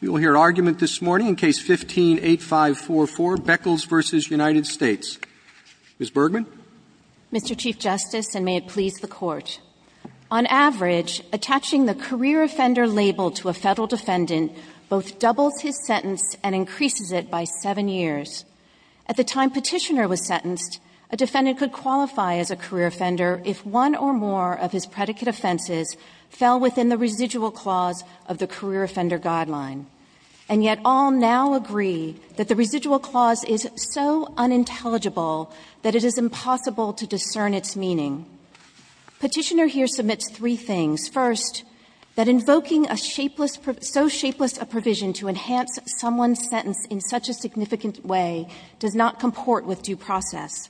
We will hear argument this morning in Case No. 15-8544, Beckles v. United States. Ms. Bergman. Mr. Chief Justice, and may it please the Court, on average, attaching the career offender label to a Federal defendant both doubles his sentence and increases it by seven years. At the time Petitioner was sentenced, a defendant could qualify as a career offender if one or more of his predicate offenses fell within the residual clause of the career offender guideline, and yet all now agree that the residual clause is so unintelligible that it is impossible to discern its meaning. Petitioner here submits three things. First, that invoking a so shapeless a provision to enhance someone's sentence in such a significant way does not comport with due process.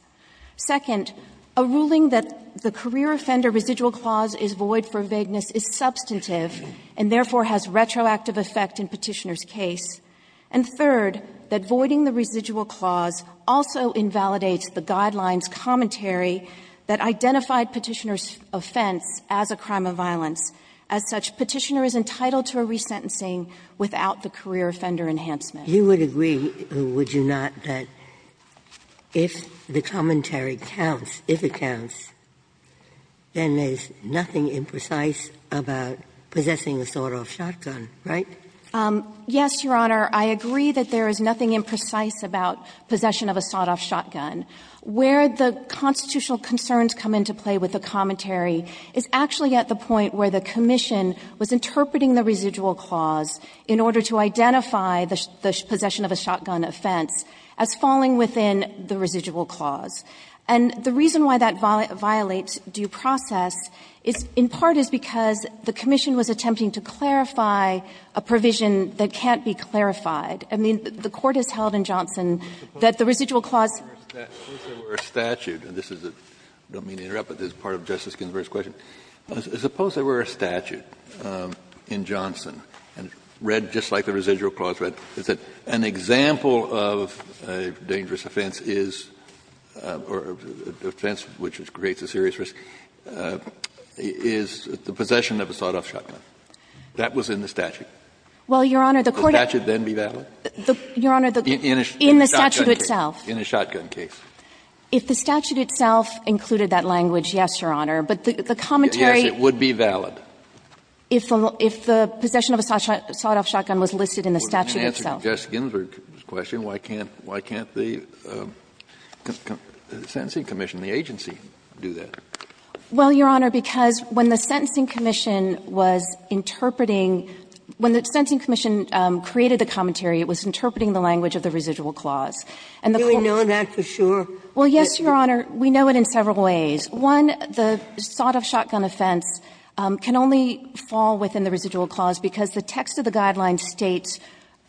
Second, a ruling that the career offender residual clause is void for vagueness is substantive and, therefore, has retroactive effect in Petitioner's case. And third, that voiding the residual clause also invalidates the guideline's commentary that identified Petitioner's offense as a crime of violence. As such, Petitioner is entitled to a resentencing without the career offender enhancement. Ginsburg You would agree, would you not, that if the commentary counts, if it counts, then there's nothing imprecise about possessing a sawed-off shotgun, right? Yes, Your Honor. I agree that there is nothing imprecise about possession of a sawed-off shotgun. Where the constitutional concerns come into play with the commentary is actually at the point where the commission was interpreting the residual clause in order to identify the possession of a shotgun offense as falling within the residual clause. And the reason why that violates due process is in part is because the commission was attempting to clarify a provision that can't be clarified. I mean, the Court has held in Johnson that the residual clause was a statute. Kennedy I don't mean to interrupt, but this is part of Justice Ginsburg's question. Suppose there were a statute in Johnson, and read just like the residual clause read, is that an example of a dangerous offense is or an offense which creates a serious risk is the possession of a sawed-off shotgun. That was in the statute. Well, Your Honor, the court has Would the statute then be valid? Your Honor, the statute itself. In a shotgun case. If the statute itself included that language, yes, Your Honor. But the commentary Yes, it would be valid. If the possession of a sawed-off shotgun was listed in the statute itself. Well, in answer to Justice Ginsburg's question, why can't the sentencing commission, the agency, do that? Well, Your Honor, because when the sentencing commission was interpreting when the sentencing commission created the commentary, it was interpreting the language of the residual clause. Do we know that for sure? Well, yes, Your Honor. We know it in several ways. One, the sawed-off shotgun offense can only fall within the residual clause because the text of the guideline states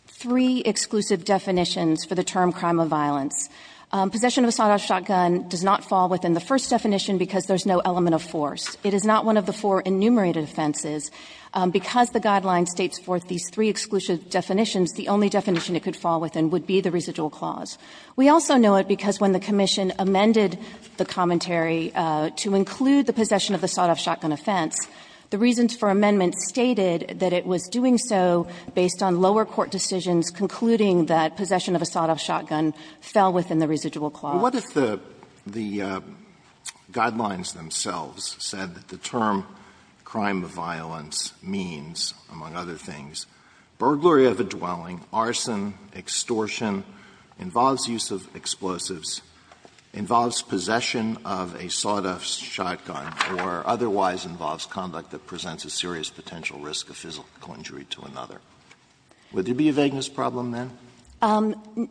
three exclusive definitions for the term crime of violence. Possession of a sawed-off shotgun does not fall within the first definition because there's no element of force. It is not one of the four enumerated offenses. Because the guideline states forth these three exclusive definitions, the only definition it could fall within would be the residual clause. We also know it because when the commission amended the commentary to include the possession of the sawed-off shotgun offense, the reasons for amendment stated that it was doing so based on lower court decisions concluding that possession of a sawed-off shotgun fell within the residual clause. Alito, what if the guidelines themselves said that the term crime of violence means, among other things, burglary of a dwelling, arson, extortion, involuntary use of explosives, involves possession of a sawed-off shotgun, or otherwise involves conduct that presents a serious potential risk of physical injury to another? Would there be a vagueness problem then?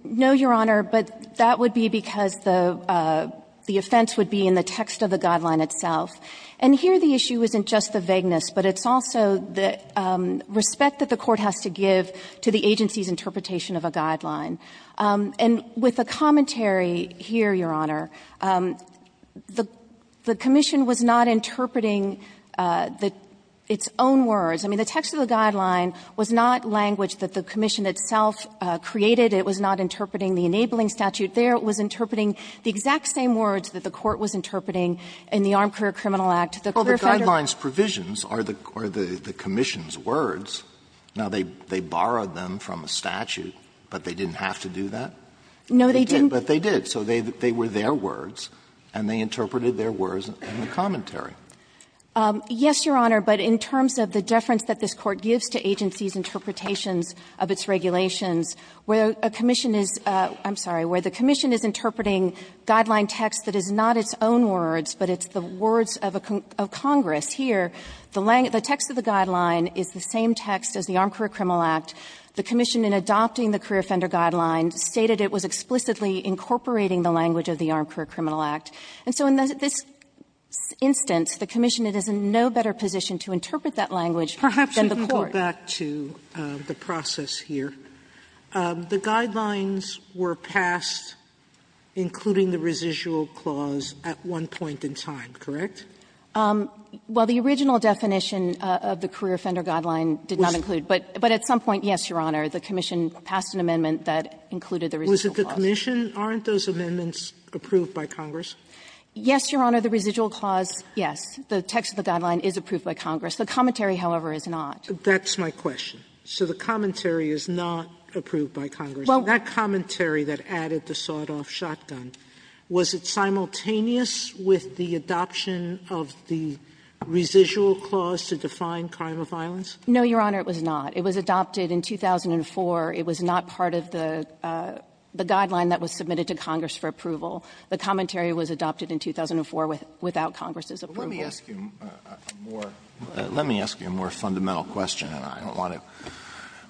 No, Your Honor, but that would be because the offense would be in the text of the guideline itself. And here the issue isn't just the vagueness, but it's also the respect that the court has to give to the agency's interpretation of a guideline. And with the commentary here, Your Honor, the commission was not interpreting its own words. I mean, the text of the guideline was not language that the commission itself created. It was not interpreting the enabling statute there. It was interpreting the exact same words that the court was interpreting The clearfender was not interpreting the enabling statute. Alito, the guidelines' provisions are the commission's words. Now, they borrowed them from a statute, but they didn't have to do that. No, they didn't. But they did. So they were their words, and they interpreted their words in the commentary. Yes, Your Honor, but in terms of the deference that this Court gives to agencies' interpretations of its regulations, where a commission is — I'm sorry — where the commission is interpreting guideline text that is not its own words, but it's the words of Congress here, the text of the guideline is the same text as the Armed Career Criminal Act. The commission, in adopting the career offender guideline, stated it was explicitly incorporating the language of the Armed Career Criminal Act. And so in this instance, the commission is in no better position to interpret that language than the court. Sotomayor, perhaps you can go back to the process here. Correct? Well, the original definition of the career offender guideline did not include — but at some point, yes, Your Honor, the commission passed an amendment that included the residual clause. Wasn't the commission — aren't those amendments approved by Congress? Yes, Your Honor, the residual clause, yes. The text of the guideline is approved by Congress. The commentary, however, is not. That's my question. So the commentary is not approved by Congress. Well, that commentary that added the sawed-off shotgun, was it simultaneous with the adoption of the residual clause to define crime of violence? No, Your Honor, it was not. It was adopted in 2004. It was not part of the guideline that was submitted to Congress for approval. The commentary was adopted in 2004 without Congress's approval. Let me ask you a more fundamental question, and I don't want to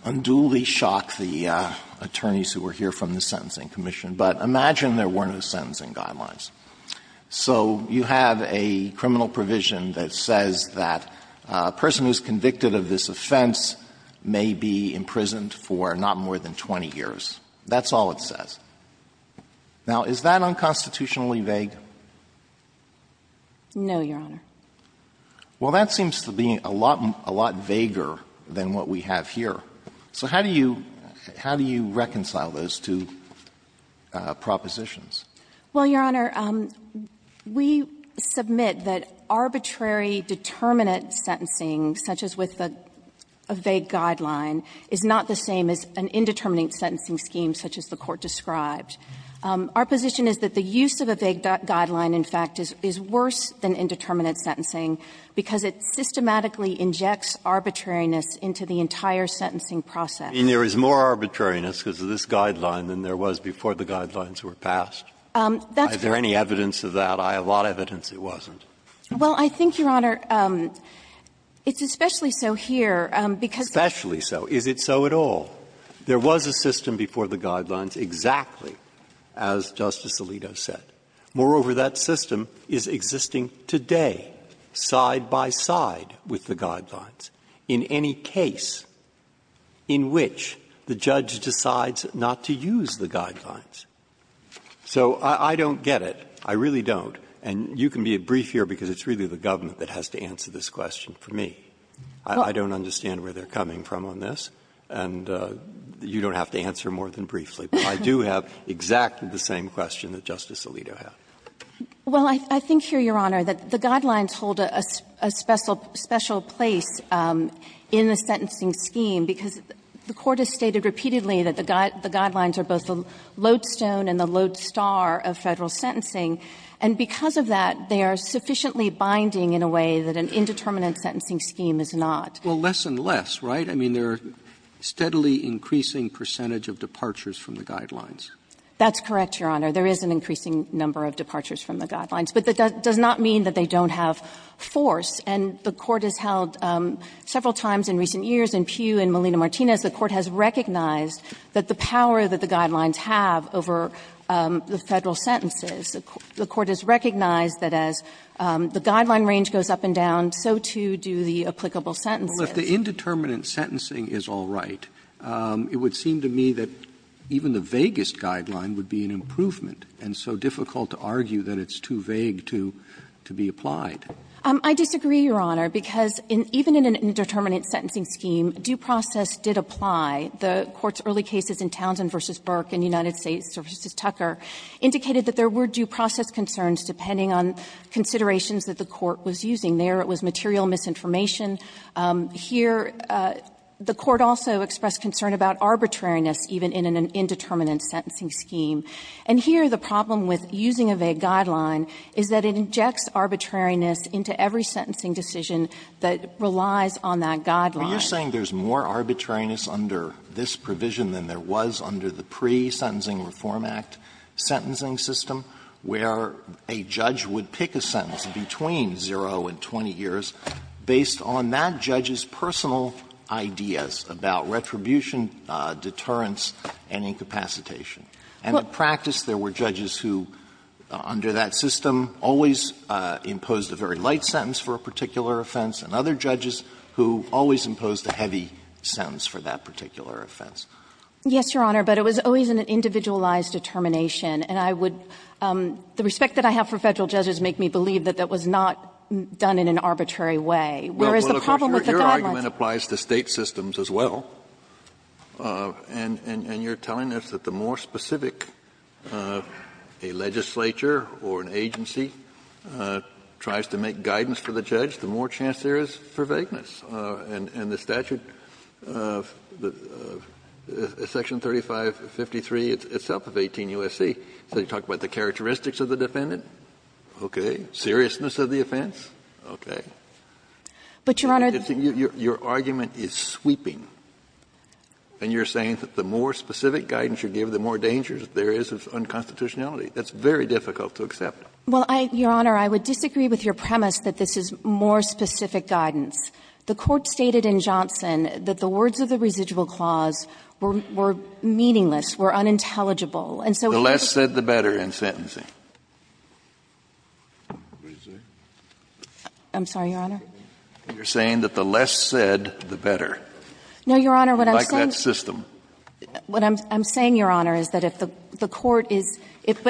unduly shock the attorneys who were here from the Sentencing Commission, but imagine there were no sentencing guidelines. So you have a criminal provision that says that a person who is convicted of this offense may be imprisoned for not more than 20 years. That's all it says. Now, is that unconstitutionally vague? No, Your Honor. Well, that seems to be a lot vaguer than what we have here. So how do you reconcile those two propositions? Well, Your Honor, we submit that arbitrary determinate sentencing, such as with a vague guideline, is not the same as an indeterminate sentencing scheme such as the Court described. Our position is that the use of a vague guideline, in fact, is worse than indeterminate sentencing because it systematically injects arbitrariness into the entire sentencing process. And there is more arbitrariness because of this guideline than there was before the guidelines were passed. Is there any evidence of that? I have a lot of evidence it wasn't. Well, I think, Your Honor, it's especially so here because the Court has said that there is no indeterminate sentencing scheme. Especially so. Is it so at all? There was a system before the guidelines exactly as Justice Alito said. Moreover, that system is existing today, side by side with the guidelines, in any case in which the judge decides not to use the guidelines. So I don't get it. I really don't. And you can be brief here because it's really the government that has to answer this question for me. I don't understand where they're coming from on this, and you don't have to answer more than briefly. But I do have exactly the same question that Justice Alito had. Well, I think here, Your Honor, that the guidelines hold a special place in the sentencing scheme because the Court has stated repeatedly that the guidelines are both the lodestone and the lodestar of Federal sentencing. And because of that, they are sufficiently binding in a way that an indeterminate sentencing scheme is not. Well, less and less, right? I mean, there are steadily increasing percentage of departures from the guidelines. That's correct, Your Honor. There is an increasing number of departures from the guidelines. But that does not mean that they don't have force. And the Court has held several times in recent years in Pugh and Melina Martinez, the Court has recognized that the power that the guidelines have over the Federal sentences. The Court has recognized that as the guideline range goes up and down, so too do the applicable sentences. Roberts Well, if the indeterminate sentencing is all right, it would seem to me that even the vaguest guideline would be an improvement, and so difficult to argue that it's too vague to be applied. I disagree, Your Honor, because even in an indeterminate sentencing scheme, due process did apply. The Court's early cases in Townsend v. Burke and United States v. Tucker indicated that there were due process concerns depending on considerations that the Court was using. There, it was material misinformation. Here, the Court also expressed concern about arbitrariness even in an indeterminate sentencing scheme. And here, the problem with using a vague guideline is that it injects arbitrariness into every sentencing decision that relies on that guideline. Alito Well, you're saying there's more arbitrariness under this provision than there was under the pre-Sentencing Reform Act sentencing system, where a judge would pick a sentence between zero and 20 years based on that judge's personal ideas about retribution, deterrence, and incapacitation. And in practice, there were judges who, under that system, always imposed a very light sentence for a particular offense, and other judges who always imposed a heavy sentence for that particular offense. Yes, Your Honor, but it was always an individualized determination, and I would The respect that I have for Federal judges make me believe that that was not done in an arbitrary way. Where is the problem with the guidelines? Kennedy Well, of course, your argument applies to State systems as well. And you're telling us that the more specific a legislature or an agency tries to make guidance for the judge, the more chance there is for vagueness. And the statute of Section 3553 itself of 18 U.S.C. says you talk about the statute of Section 3553, you talk about the characteristics of the defendant, okay, seriousness of the offense, okay. Your argument is sweeping, and you're saying that the more specific guidance you give, the more danger there is of unconstitutionality. That's very difficult to accept. Well, Your Honor, I would disagree with your premise that this is more specific guidance. The Court stated in Johnson that the words of the residual clause were meaningless, were unintelligible. And so if you could just say the less said, the better in sentencing. I'm sorry, Your Honor. You're saying that the less said, the better. No, Your Honor, what I'm saying. Like that system. What I'm saying, Your Honor, is that if the Court is – if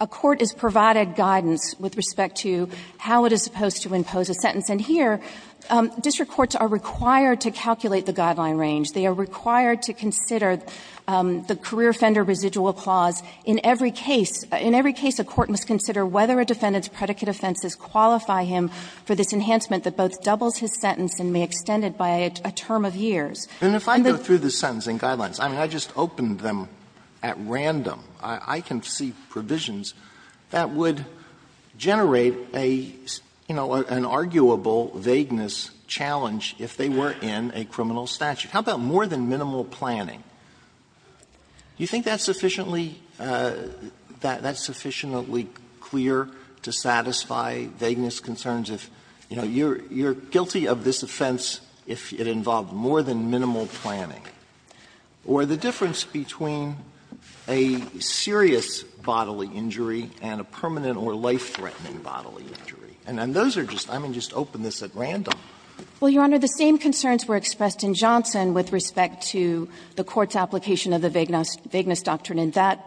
a court is provided guidance with respect to how it is supposed to impose a sentence, and here district courts are required to calculate the guideline range. They are required to consider the career offender residual clause in every case. In every case, a court must consider whether a defendant's predicate offenses qualify him for this enhancement that both doubles his sentence and may extend it by a term of years. And the fact that the sentence and guidelines, I mean, I just opened them at random. I can see provisions that would generate a, you know, an arguable vagueness challenge if they were in a criminal statute. How about more than minimal planning? Do you think that's sufficiently – that's sufficiently clear to satisfy vagueness concerns if, you know, you're guilty of this offense if it involved more than minimal planning, or the difference between a serious bodily injury and a permanent or life-threatening bodily injury? And those are just – I mean, just open this at random. Well, Your Honor, the same concerns were expressed in Johnson with respect to the Court's application of the vagueness doctrine in that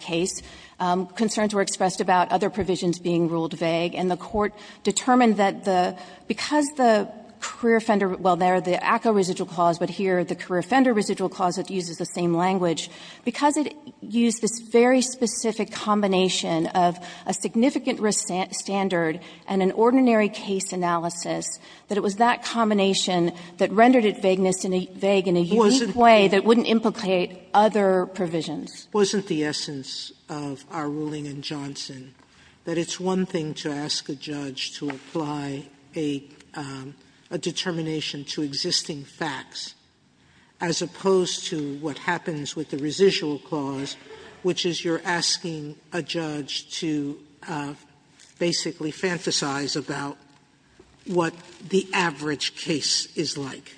case. Concerns were expressed about other provisions being ruled vague, and the Court determined that the – because the career offender – well, there the ACCA residual clause, but here the career offender residual clause that uses the same language – because it used this very specific combination of a significant risk standard and an ordinary case analysis, that it was that combination that rendered it vagueness and vague in a unique way that wouldn't implicate other provisions. Sotomayor's wasn't the essence of our ruling in Johnson, that it's one thing to ask a judge to apply a determination to existing facts, as opposed to what happens with the residual clause, which is you're asking a judge to basically fantasize about what the average case is like.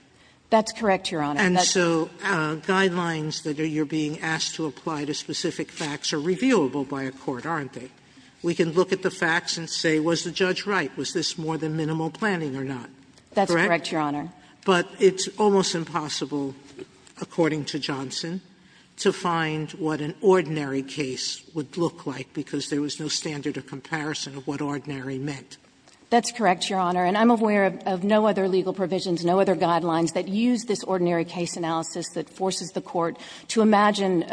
That's correct, Your Honor. And so guidelines that you're being asked to apply to specific facts are reviewable by a court, aren't they? We can look at the facts and say, was the judge right? Was this more than minimal planning or not? That's correct, Your Honor. But it's almost impossible, according to Johnson, to find what an ordinary case would look like because there was no standard of comparison of what ordinary meant. That's correct, Your Honor. And I'm aware of no other legal provisions, no other guidelines that use this ordinary case analysis that forces the court to imagine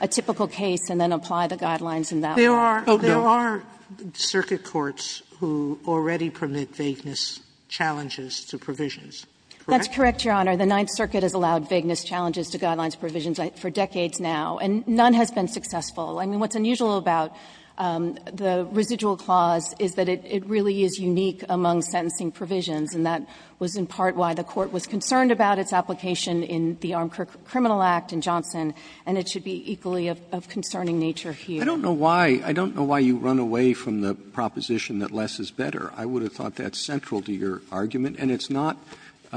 a typical case and then apply the guidelines in that way. There are circuit courts who already permit vagueness challenges to provisions. That's correct, Your Honor. The Ninth Circuit has allowed vagueness challenges to guidelines provisions for decades now, and none has been successful. I mean, what's unusual about the residual clause is that it really is unique among sentencing provisions, and that was in part why the court was concerned about its application in the Armed Criminal Act in Johnson, and it should be equally of concerning nature here. I don't know why you run away from the proposition that less is better. I would have thought that's central to your argument. And it's not —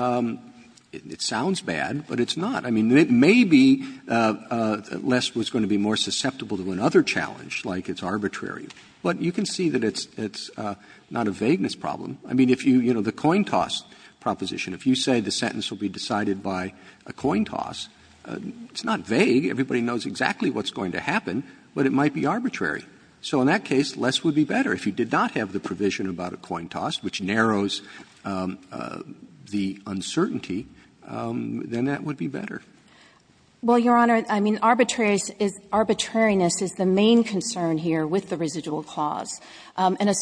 it sounds bad, but it's not. I mean, maybe less was going to be more susceptible to another challenge, like it's arbitrary. But you can see that it's not a vagueness problem. I mean, if you — you know, the coin toss proposition. If you say the sentence will be decided by a coin toss, it's not vague. Everybody knows exactly what's going to happen, but it might be arbitrary. So in that case, less would be better. If you did not have the provision about a coin toss, which narrows the uncertainty, then that would be better. Well, Your Honor, I mean, arbitrariness is the main concern here with the residual clause, and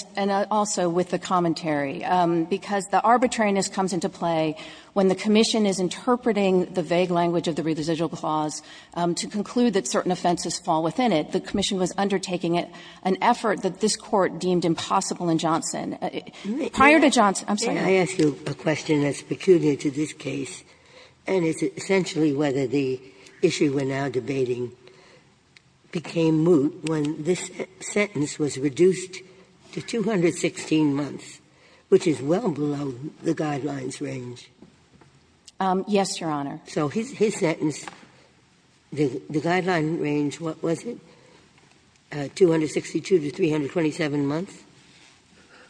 also with the commentary, because the arbitrariness comes into play when the commission is interpreting the vague language of the residual clause to conclude that certain offenses fall within it. But the commission was undertaking it, an effort that this Court deemed impossible in Johnson. Prior to Johnson — I'm sorry. Ginsburg. May I ask you a question that's peculiar to this case, and it's essentially whether the issue we're now debating became moot when this sentence was reduced to 216 months, which is well below the Guidelines' range? Yes, Your Honor. So his sentence, the Guidelines' range, what was it? 262 to 327 months?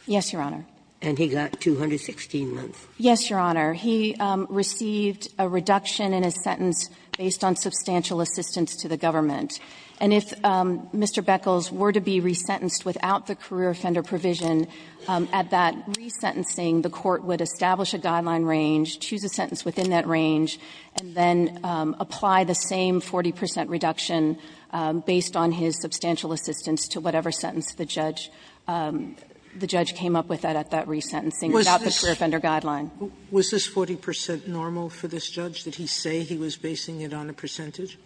Yes, Your Honor. And he got 216 months. Yes, Your Honor. He received a reduction in his sentence based on substantial assistance to the government. And if Mr. Beckles were to be resentenced without the career offender provision, at that resentencing, the Court would establish a Guidelines' range, choose a sentence within that range, and then apply the same 40 percent reduction based on his substantial assistance to whatever sentence the judge — the judge came up with at that resentencing without the career offender guideline. Was this 40 percent normal for this judge? Did he say he was basing it on a percentage?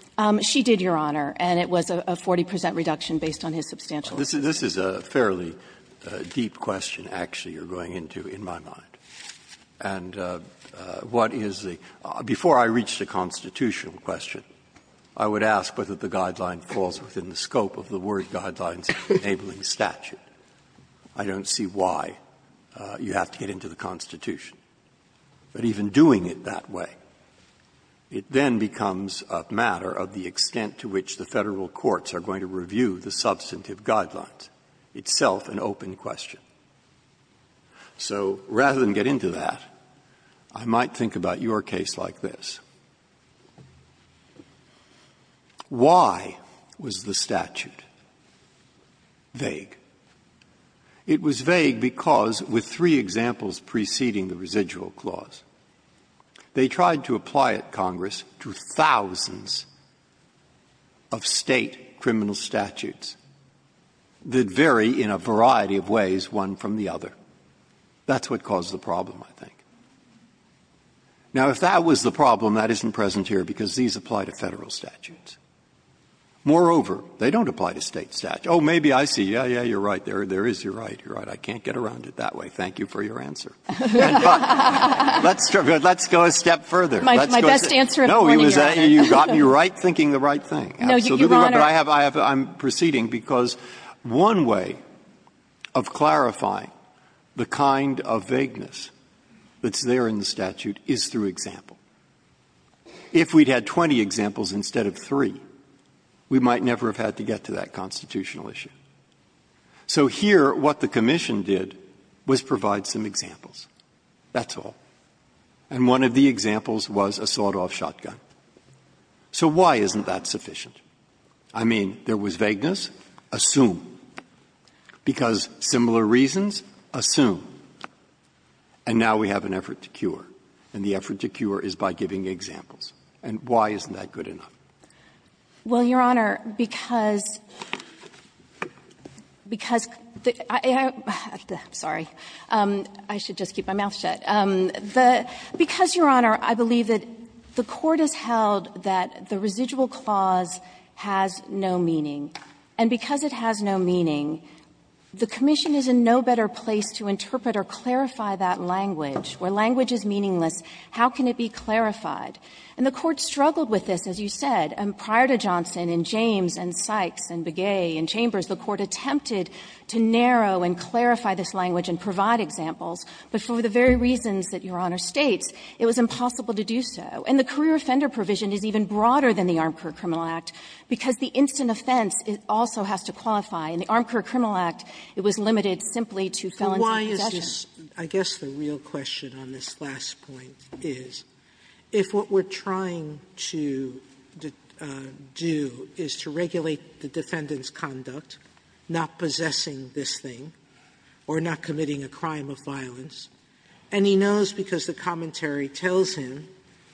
She did, Your Honor, and it was a 40 percent reduction based on his substantial assistance. This is a fairly deep question, actually, you're going into, in my mind. And what is the — before I reach the constitutional question, I would ask whether the guideline falls within the scope of the word Guidelines enabling statute. I don't see why you have to get into the Constitution. But even doing it that way, it then becomes a matter of the extent to which the Federal courts are going to review the substantive guidelines, itself an open question. So rather than get into that, I might think about your case like this. Why was the statute vague? It was vague because, with three examples preceding the residual clause, they tried to apply it, Congress, to thousands of State criminal statutes that vary in a variety of ways, one from the other. That's what caused the problem, I think. Now, if that was the problem, that isn't present here, because these apply to Federal statutes. Moreover, they don't apply to State statutes. Oh, maybe I see, yeah, yeah, you're right, there is, you're right, you're right. I can't get around it that way. Thank you for your answer. And, but, let's go a step further. Let's go a step further. No, you got me right thinking the right thing. I'm proceeding because one way of clarifying the kind of vagueness that's there in the statute is through example. If we'd had 20 examples instead of three, we might never have had to get to that constitutional issue. So here, what the commission did was provide some examples. That's all. And one of the examples was a sawed-off shotgun. So why isn't that sufficient? I mean, there was vagueness, assume, because similar reasons, assume. And now we have an effort to cure. And the effort to cure is by giving examples. And why isn't that good enough? Well, Your Honor, because the ---- sorry, I should just keep my mouth shut. Because, Your Honor, I believe that the court has held that the residual clause has no meaning. And because it has no meaning, the commission is in no better place to interpret or clarify that language. Where language is meaningless, how can it be clarified? And the Court struggled with this, as you said. And prior to Johnson and James and Sykes and Begay and Chambers, the Court attempted to narrow and clarify this language and provide examples. But for the very reasons that Your Honor states, it was impossible to do so. And the career offender provision is even broader than the Armed Career Criminal Act, because the instant offense also has to qualify. In the Armed Career Criminal Act, it was limited simply to felons in possession. Sotomayor, I guess the real question on this last point is, if what we're trying to do is to regulate the defendant's conduct, not possessing this thing or not committing a crime of violence, and he knows because the commentary tells him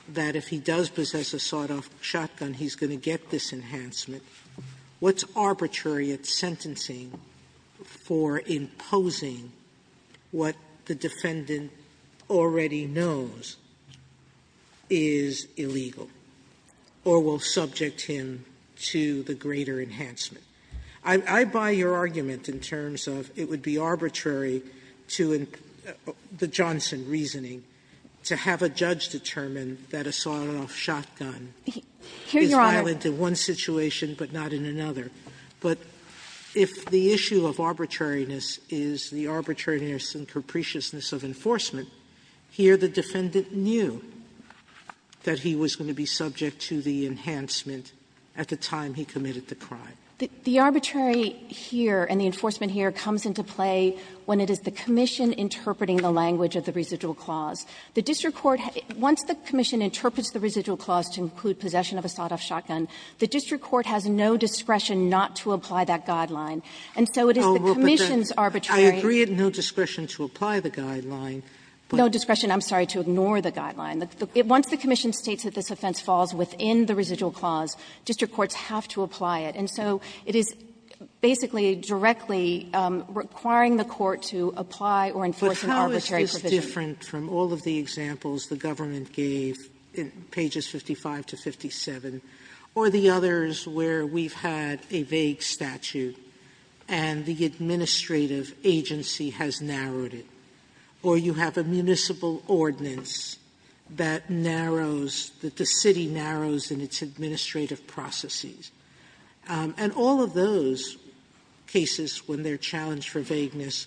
that if he does possess a sawed-off shotgun, he's going to get this enhancement, what's arbitrary at sentencing for imposing what the defendant already knows is illegal, or will subject him to the greater enhancement? I buy your argument in terms of it would be arbitrary to the Johnson reasoning to have a judge determine that a sawed-off shotgun is violent in one situation, but not in another. But if the issue of arbitrariness is the arbitrariness and capriciousness of enforcement, here the defendant knew that he was going to be subject to the enhancement at the time he committed the crime. The arbitrary here and the enforcement here comes into play when it is the commission interpreting the language of the residual clause. The district court, once the commission interprets the residual clause to include possession of a sawed-off shotgun, the district court has no discretion not to apply that guideline. And so it is the commission's arbitrary. Sotomayor, I agree, no discretion to apply the guideline. No discretion, I'm sorry, to ignore the guideline. Once the commission states that this offense falls within the residual clause, district courts have to apply it. And so it is basically directly requiring the court to apply or enforce an arbitrary Sotomayor, but how is this different from all of the examples the government gave in pages 55 to 57 or the others where we've had a vague statute and the administrative agency has narrowed it, or you have a municipal ordinance that narrows, that the city narrows in its administrative processes, and all of those cases, when they're challenged for vagueness,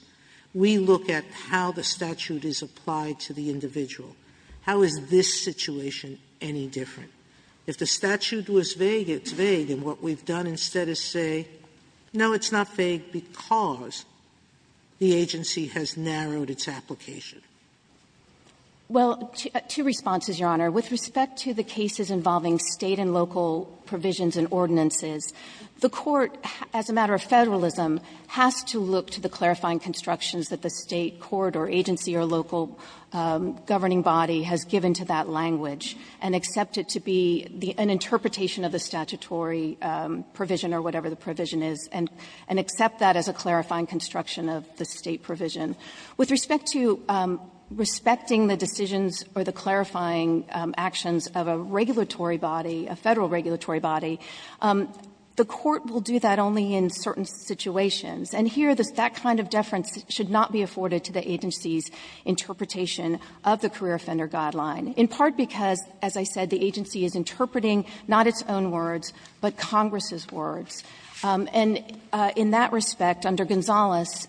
we look at how the statute is applied to the individual. How is this situation any different? If the statute was vague, it's vague, and what we've done instead is say, no, it's not vague because the agency has narrowed its application. Well, two responses, Your Honor. With respect to the cases involving State and local provisions and ordinances, the Court, as a matter of Federalism, has to look to the clarifying constructions that the State court or agency or local governing body has given to that language and accept it to be an interpretation of the statutory provision or whatever the provision is, and accept that as a clarifying construction of the State provision. With respect to respecting the decisions or the clarifying actions of a regulatory body, a Federal regulatory body, the Court will do that only in certain situations. And here, that kind of deference should not be afforded to the agency's interpretation of the career offender guideline, in part because, as I said, the agency is interpreting And in that respect, under Gonzales,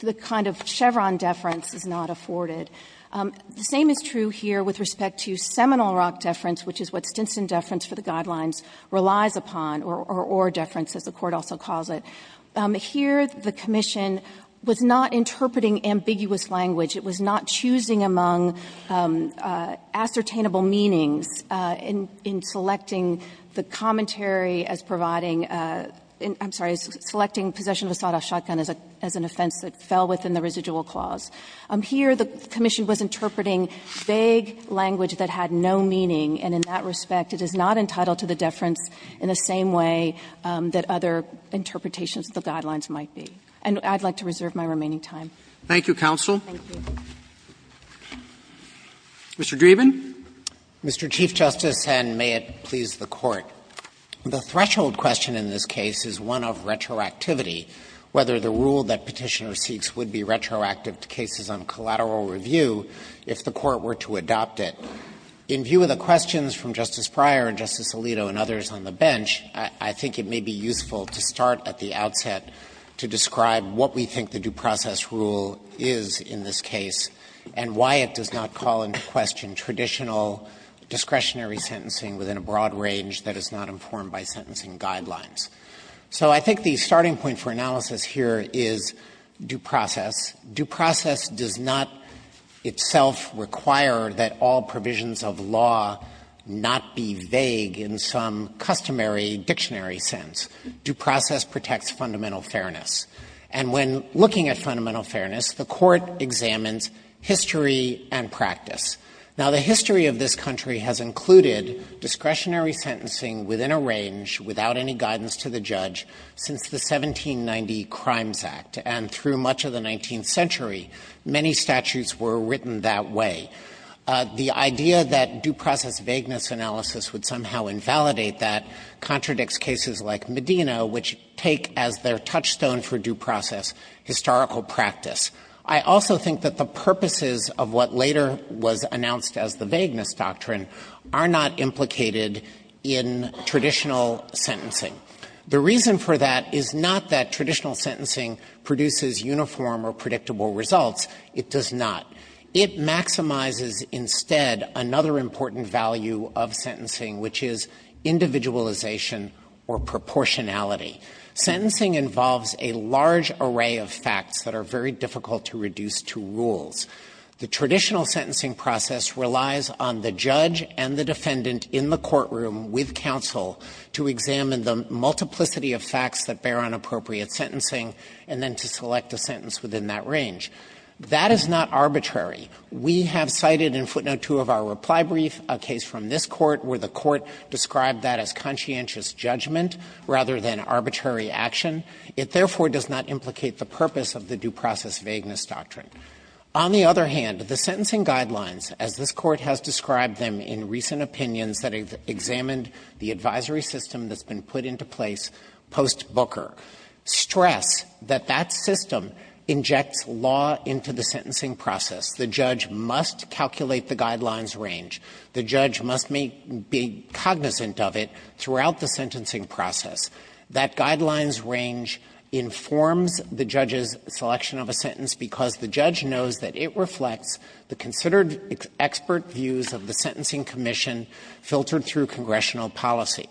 the kind of Chevron deference is not afforded. The same is true here with respect to Seminole Rock deference, which is what Stinson deference for the guidelines relies upon, or Ore deference, as the Court also calls it. Here, the Commission was not interpreting ambiguous language. It was not choosing among ascertainable meanings in selecting the commentary as providing – I'm sorry, as selecting possession of a sawed-off shotgun as an offense that fell within the residual clause. Here, the Commission was interpreting vague language that had no meaning, and in that respect, it is not entitled to the deference in the same way that other interpretations of the guidelines might be. And I'd like to reserve my remaining time. Roberts. Thank you, counsel. Thank you. Mr. Dreeben. Mr. Chief Justice, and may it please the Court. The threshold question in this case is one of retroactivity, whether the rule that Petitioner seeks would be retroactive to cases on collateral review if the Court were to adopt it. In view of the questions from Justice Breyer and Justice Alito and others on the bench, I think it may be useful to start at the outset to describe what we think the due process rule is in this case and why it does not call into question traditional discretionary sentencing within a broad range that is not informed by sentencing guidelines. So I think the starting point for analysis here is due process. Due process does not itself require that all provisions of law not be vague in some customary dictionary sense. Due process protects fundamental fairness. And when looking at fundamental fairness, the Court examines history and practice. Now, the history of this country has included discretionary sentencing within a range without any guidance to the judge since the 1790 Crimes Act, and through much of the 19th century, many statutes were written that way. The idea that due process vagueness analysis would somehow invalidate that contradicts cases like Medina, which take as their touchstone for due process historical practice. I also think that the purposes of what later was announced as the vagueness doctrine are not implicated in traditional sentencing. The reason for that is not that traditional sentencing produces uniform or predictable results. It does not. It maximizes instead another important value of sentencing, which is individualization or proportionality. Sentencing involves a large array of facts that are very difficult to reduce to rules. The traditional sentencing process relies on the judge and the defendant in the courtroom with counsel to examine the multiplicity of facts that bear on appropriate sentencing and then to select a sentence within that range. That is not arbitrary. We have cited in footnote 2 of our reply brief a case from this Court where the Court described that as conscientious judgment rather than arbitrary action. It therefore does not implicate the purpose of the due process vagueness doctrine. On the other hand, the sentencing guidelines, as this Court has described them in recent opinions that examined the advisory system that's been put into place post Booker, stress that that system injects law into the sentencing process. The judge must calculate the guidelines range. The judge must make be cognizant of it throughout the sentencing process. That guidelines range informs the judge's selection of a sentence because the judge knows that it reflects the considered expert views of the Sentencing Commission filtered through congressional policy.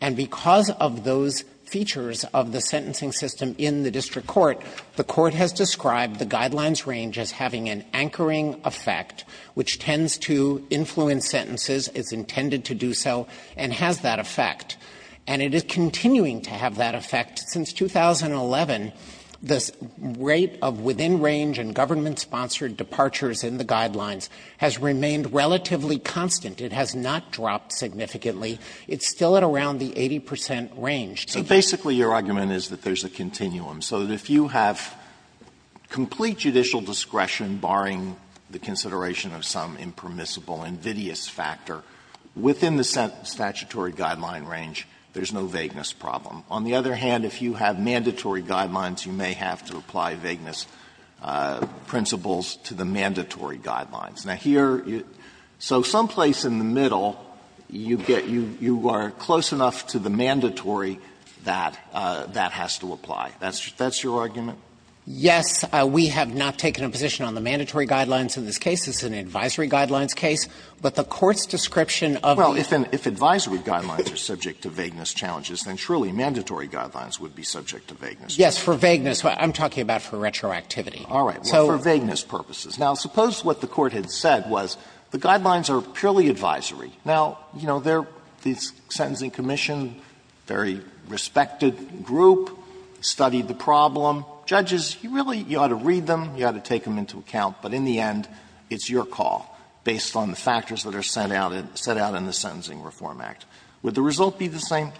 And because of those features of the sentencing system in the district court, the court has described the guidelines range as having an anchoring effect which tends to influence sentences, is intended to do so, and has that effect. And it is continuing to have that effect. Since 2011, the rate of within-range and government-sponsored departures in the guidelines has remained relatively constant. It has not dropped significantly. It's still at around the 80 percent range. So basically your argument is that there's a continuum. So that if you have complete judicial discretion, barring the consideration of some impermissible invidious factor, within the statutory guideline range, there's no vagueness problem. On the other hand, if you have mandatory guidelines, you may have to apply vagueness principles to the mandatory guidelines. Now, here, so someplace in the middle, you get you are close enough to the mandatory that that has to apply. That's your argument? Dreeben, yes, we have not taken a position on the mandatory guidelines in this case. It's an advisory guidelines case. But the Court's description of the ---- Alito, well, if advisory guidelines are subject to vagueness challenges, then truly mandatory guidelines would be subject to vagueness. Dreeben, yes, for vagueness. I'm talking about for retroactivity. Alito, all right. Well, for vagueness purposes. Now, suppose what the Court had said was the guidelines are purely advisory. Now, you know, they're the Sentencing Commission, very respected group, studied the problem. Judges, you really ought to read them, you ought to take them into account. But in the end, it's your call, based on the factors that are set out in the Sentencing Reform Act. Would the result be the same?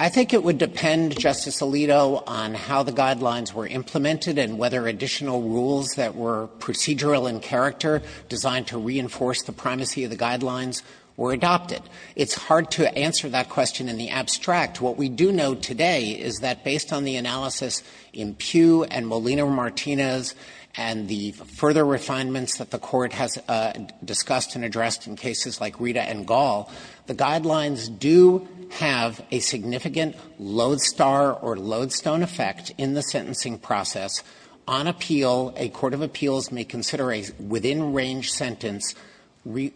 I think it would depend, Justice Alito, on how the guidelines were implemented and whether additional rules that were procedural in character, designed to reinforce the primacy of the guidelines, were adopted. It's hard to answer that question in the abstract. What we do know today is that, based on the analysis in Pugh and Molina-Martinez and the further refinements that the Court has discussed and addressed in cases like Rita and Gall, the guidelines do have a significant lodestar or lodestone effect in the sentencing process on appeal. A court of appeals may consider a within-range sentence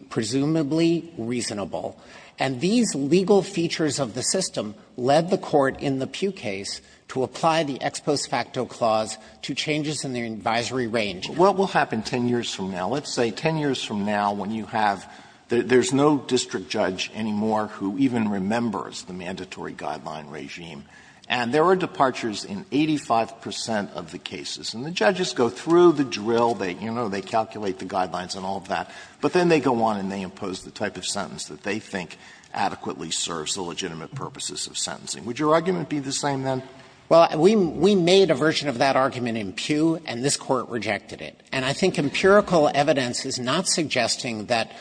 presumably reasonable. And these legal features of the system led the Court in the Pugh case to apply the ex post facto clause to changes in the advisory range. Alito, what will happen 10 years from now? Let's say 10 years from now when you have the – there's no district judge anymore who even remembers the mandatory guideline regime. And there are departures in 85 percent of the cases. And the judges go through the drill, they, you know, they calculate the guidelines and all of that. But then they go on and they impose the type of sentence that they think adequately serves the legitimate purposes of sentencing. Would your argument be the same, then? Dreeben, Well, we made a version of that argument in Pugh, and this Court rejected it. And I think empirical evidence is not suggesting that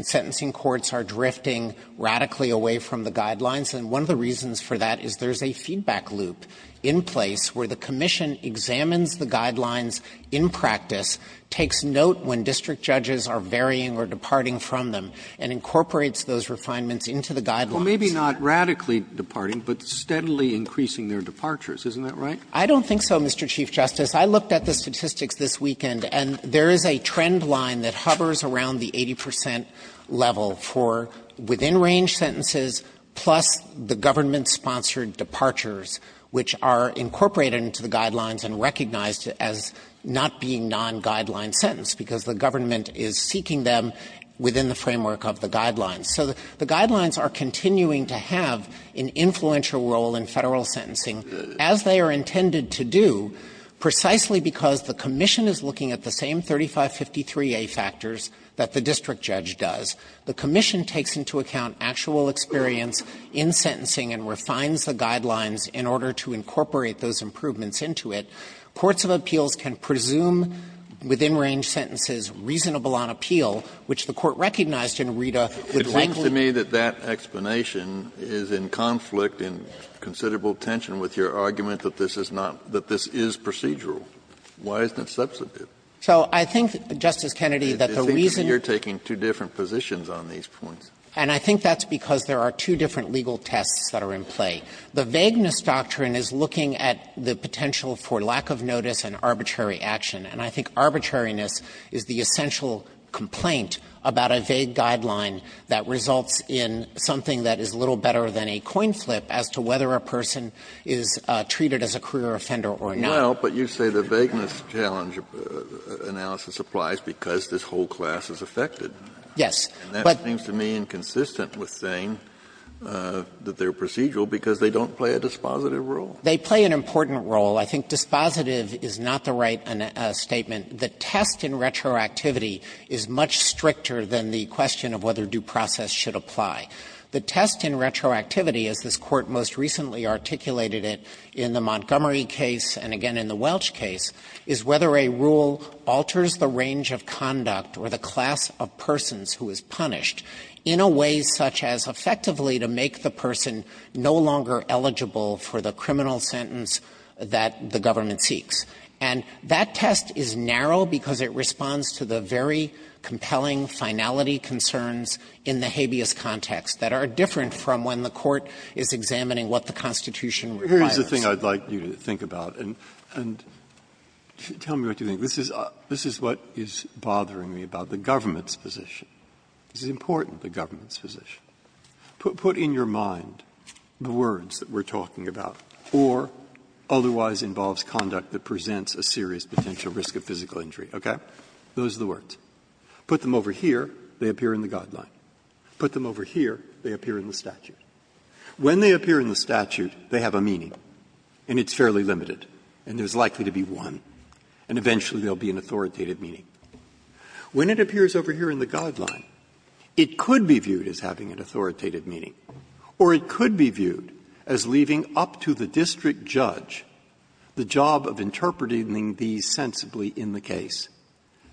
sentencing courts are drifting radically away from the guidelines. And one of the reasons for that is there's a feedback loop in place where the commission examines the guidelines in practice, takes note when district judges are varying or departing from them, and incorporates those refinements into the guidelines. Roberts Well, maybe not radically departing, but steadily increasing their departures. Isn't that right? Dreeben I don't think so, Mr. Chief Justice. I looked at the statistics this weekend, and there is a trend line that hovers around the 80 percent level for within-range sentences plus the government-sponsored departures, which are incorporated into the guidelines and recognized as not being non-guideline sentence, because the government is seeking them within the framework of the guidelines. So the guidelines are continuing to have an influential role in Federal sentencing as they are intended to do, precisely because the commission is looking at the same 3553a factors that the district judge does. The commission takes into account actual experience in sentencing and refines the guidelines in order to incorporate those improvements into it. Courts of appeals can presume within-range sentences reasonable on appeal, which the Court recognized in Rita would likely not. Kennedy It seems to me that that explanation is in conflict and considerable tension with your argument that this is not – that this is procedural. Why isn't it substantive? Dreeben So I think, Justice Kennedy, that the reason is you're taking two different positions on these points. Dreeben And I think that's because there are two different legal tests that are in play. The vagueness doctrine is looking at the potential for lack of notice and arbitrary action, and I think arbitrariness is the essential complaint about a vague guideline that results in something that is a little better than a coin flip as to whether a person is treated as a career offender or not. Kennedy Well, but you say the vagueness challenge analysis applies because this whole class is affected. Dreeben Yes. Kennedy And that seems to me inconsistent with saying that they're procedural because they don't play a dispositive role. Dreeben They play an important role. I think dispositive is not the right statement. The test in retroactivity is much stricter than the question of whether due process should apply. The test in retroactivity, as this Court most recently articulated it in the Montgomery case and again in the Welch case, is whether a rule alters the range of conduct or the class of persons who is punished in a way such as effectively to make the person no longer eligible for the criminal sentence that the government seeks. And that test is narrow because it responds to the very compelling finality concerns in the habeas context that are different from when the Court is examining what the Constitution requires. That's the thing I'd like you to think about. And tell me what you think. This is what is bothering me about the government's position. This is important, the government's position. Put in your mind the words that we're talking about, or otherwise involves conduct that presents a serious potential risk of physical injury, okay? Those are the words. Put them over here, they appear in the guideline. Put them over here, they appear in the statute. When they appear in the statute, they have a meaning. And it's fairly limited. And there's likely to be one. And eventually there will be an authoritative meaning. When it appears over here in the guideline, it could be viewed as having an authoritative meaning, or it could be viewed as leaving up to the district judge the job of interpreting these sensibly in the case,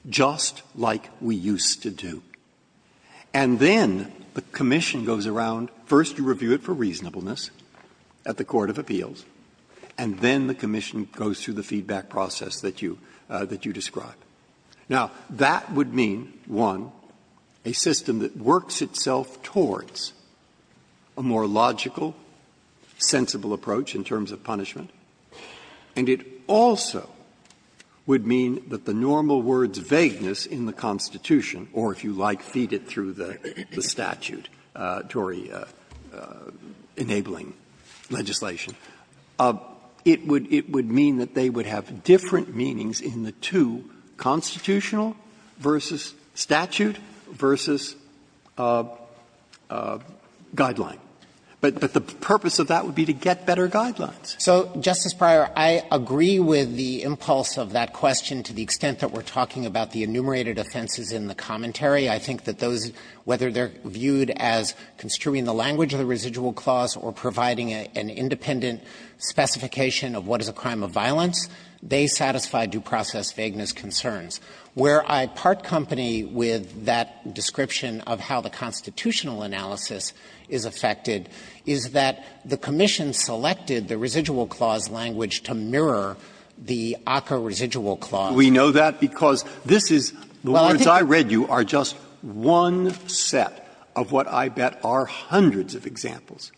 just like we used to do. And then the commission goes around, first to review it for reasonableness at the court of appeals, and then the commission goes through the feedback process that you describe. Now, that would mean, one, a system that works itself towards a more logical, sensible approach in terms of punishment. And it also would mean that the normal words vagueness in the Constitution, or if you like, feed it through the statute, Tory-enabling legislation. It would mean that they would have different meanings in the two, constitutional versus statute versus guideline. But the purpose of that would be to get better guidelines. So, Justice Breyer, I agree with the impulse of that question to the extent that we're talking about the enumerated offenses in the commentary. I think that those, whether they're viewed as construing the language of the residual clause or providing an independent specification of what is a crime of violence, they satisfy due process vagueness concerns. Where I part company with that description of how the constitutional analysis is affected is that the commission selected the residual clause language to mirror the ACCA residual clause. Breyer, we know that because this is the words I read you are just one set of what I bet are hundreds of examples.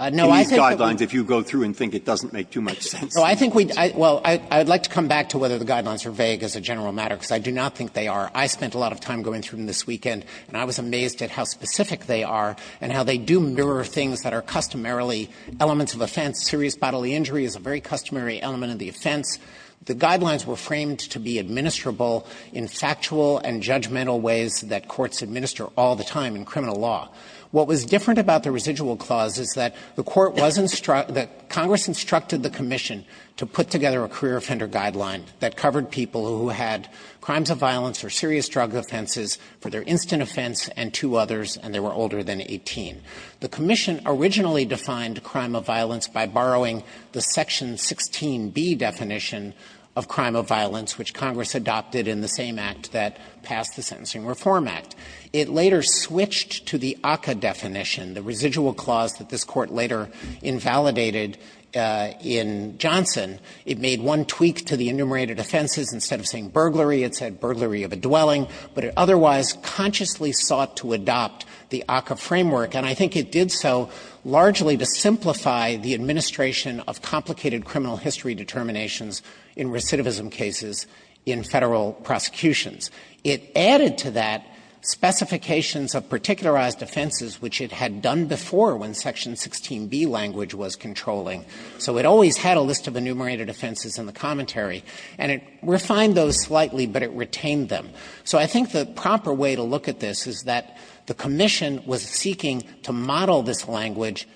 In these guidelines, if you go through and think it doesn't make too much sense. Dreeben, I think we'd, well, I'd like to come back to whether the guidelines are vague as a general matter, because I do not think they are. I spent a lot of time going through them this weekend, and I was amazed at how specific they are and how they do mirror things that are customarily elements of offense. Serious bodily injury is a very customary element of the offense. The guidelines were framed to be administrable in factual and judgmental ways that courts administer all the time in criminal law. What was different about the residual clause is that the court was instruct the Congress instructed the commission to put together a career offender guideline that covered people who had crimes of violence or serious drug offenses for their instant offense and two others, and they were older than 18. The commission originally defined crime of violence by borrowing the Section 16B definition of crime of violence, which Congress adopted in the same act that passed the Sentencing Reform Act. It later switched to the ACCA definition, the residual clause that this Court later invalidated in Johnson. It made one tweak to the enumerated offenses. Instead of saying burglary, it said burglary of a dwelling, but it otherwise consciously sought to adopt the ACCA framework, and I think it did so largely to simplify the administration of complicated criminal history determinations in recidivism cases in Federal prosecutions. It added to that specifications of particularized offenses, which it had done before when Section 16B language was controlling. So it always had a list of enumerated offenses in the commentary, and it refined those slightly, but it retained them. So I think the proper way to look at this is that the commission was seeking to model this language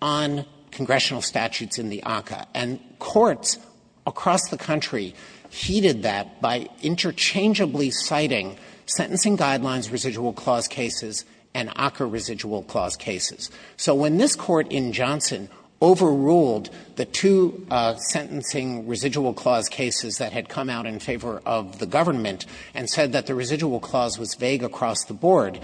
on congressional statutes in the ACCA, and courts across the country heeded that by interchangeably citing sentencing guidelines, residual clause cases, and ACCA residual clause cases. So when this Court in Johnson overruled the two sentencing residual clause cases that had come out in favor of the government and said that the residual clause was vague across the board,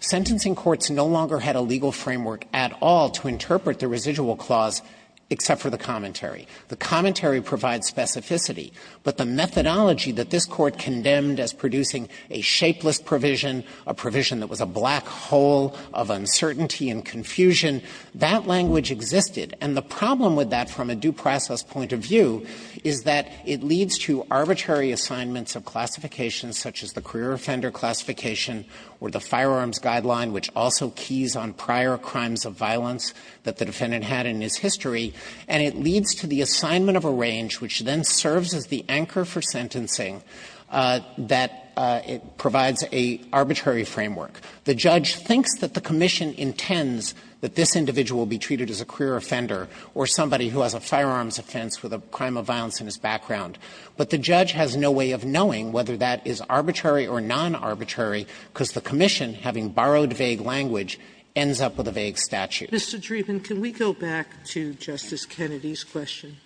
sentencing courts no longer had a legal framework at all to interpret the residual clause except for the commentary. The commentary provides specificity, but the methodology that this Court condemned as producing a shapeless provision, a provision that was a black hole of uncertainty and confusion, that language existed. And the problem with that from a due process point of view is that it leads to arbitrary assignments of classifications such as the career offender classification or the firearms guideline, which also keys on prior crimes of violence that the defendant had in his history, and it leads to the assignment of a range which then serves as the anchor for sentencing that it provides a arbitrary framework. The judge thinks that the commission intends that this individual will be treated as a career offender or somebody who has a firearms offense with a crime of violence in his background. But the judge has no way of knowing whether that is arbitrary or non-arbitrary because the commission, having borrowed vague language, ends up with a vague statute. Sotomayor, can we go back to Justice Kennedy's question?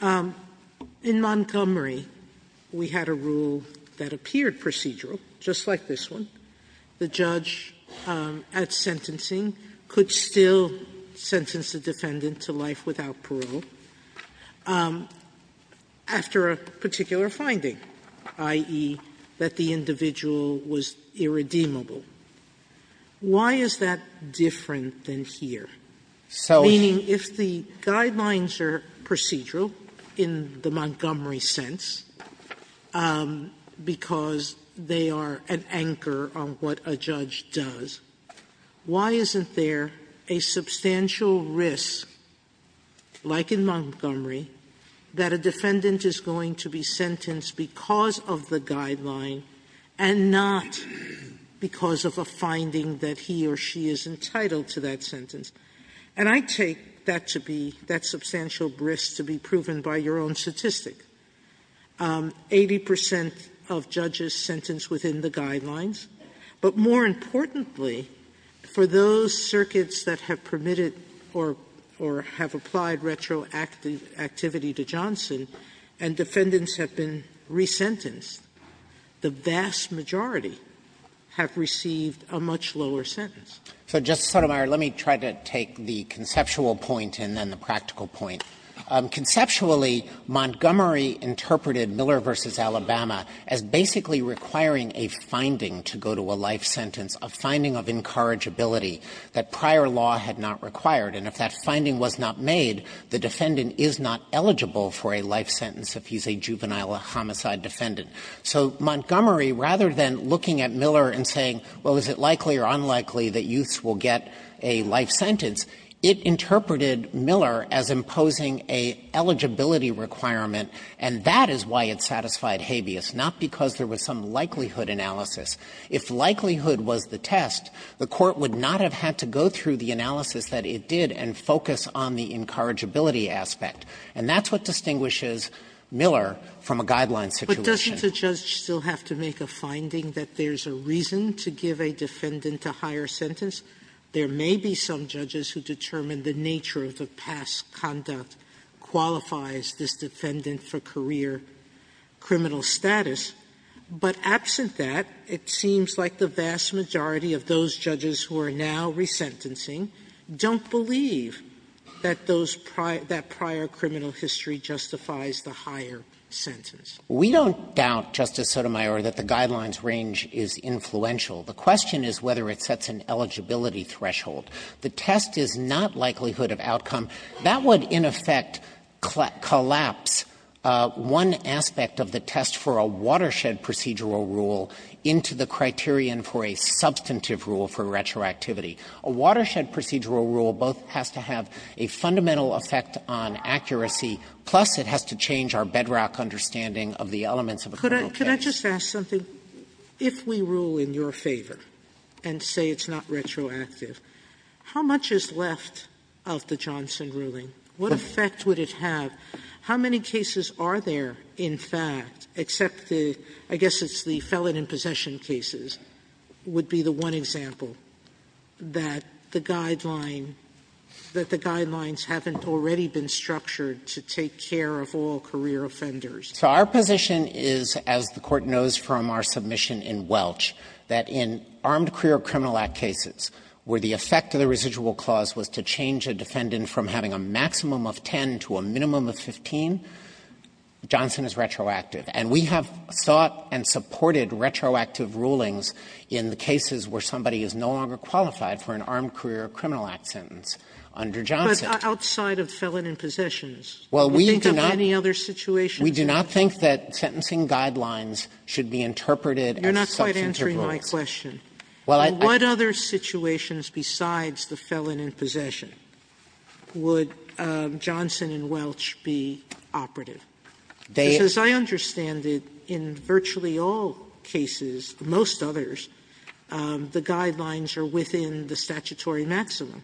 In Montgomery, we had a rule that appeared procedural, just like this one. The judge at sentencing could still sentence a defendant to life without parole. After a particular finding, i.e., that the individual was irredeemable. Why is that different than here? Meaning, if the guidelines are procedural in the Montgomery sense because they are an anchor on what a judge does, why isn't there a substantial risk, like in Montgomery, that a defendant is going to be sentenced because of the guideline and not because of a finding that he or she is entitled to that sentence? And I take that substantial risk to be proven by your own statistic. Eighty percent of judges sentenced within the guidelines. But more importantly, for those circuits that have permitted or have applied retroactivity to Johnson and defendants have been resentenced, the vast majority have received a much lower sentence. So, Justice Sotomayor, let me try to take the conceptual point and then the practical point. Conceptually, Montgomery interpreted Miller v. Alabama as basically requiring a finding to go to a life sentence, a finding of incorrigibility that prior law had not required. And if that finding was not made, the defendant is not eligible for a life sentence if he's a juvenile homicide defendant. So Montgomery, rather than looking at Miller and saying, well, is it likely or unlikely that youths will get a life sentence, it interpreted Miller as imposing a eligibility requirement, and that is why it satisfied habeas, not because there was some likelihood analysis. If likelihood was the test, the Court would not have had to go through the analysis that it did and focus on the incorrigibility aspect. And that's what distinguishes Miller from a guideline situation. Sotomayor, but doesn't the judge still have to make a finding that there's a reason to give a defendant a higher sentence? There may be some judges who determine the nature of the past conduct qualifies this defendant for career criminal status, but absent that, it seems like the vast majority of those judges who are now resentencing don't believe that those prior – that prior criminal history justifies the higher sentence. We don't doubt, Justice Sotomayor, that the guidelines range is influential. The question is whether it sets an eligibility threshold. The test is not likelihood of outcome. That would, in effect, collapse one aspect of the test for a watershed procedural rule into the criterion for a substantive rule for retroactivity. A watershed procedural rule both has to have a fundamental effect on accuracy, plus it has to change our bedrock understanding of the elements of a criminal case. Sotomayor, could I just ask something? If we rule in your favor and say it's not retroactive, how much is left of the Johnson ruling? What effect would it have? How many cases are there, in fact, except the – I guess it's the felon in possession cases would be the one example that the guideline – that the guidelines haven't already been structured to take care of all career offenders? So our position is, as the Court knows from our submission in Welch, that in Armed Career Criminal Act cases where the effect of the residual clause was to change a defendant from having a maximum of 10 to a minimum of 15, Johnson is retroactive. And we have sought and supported retroactive rulings in the cases where somebody is no longer qualified for an Armed Career Criminal Act sentence under Johnson. Sotomayor, but outside of felon in possessions, do you think of any other situations? We do not think that sentencing guidelines should be interpreted as self-interpreting. You're not quite answering my question. Well, I – What other situations besides the felon in possession would Johnson in Welch be operative? Because as I understand it, in virtually all cases, most others, the guidelines are within the statutory maximum.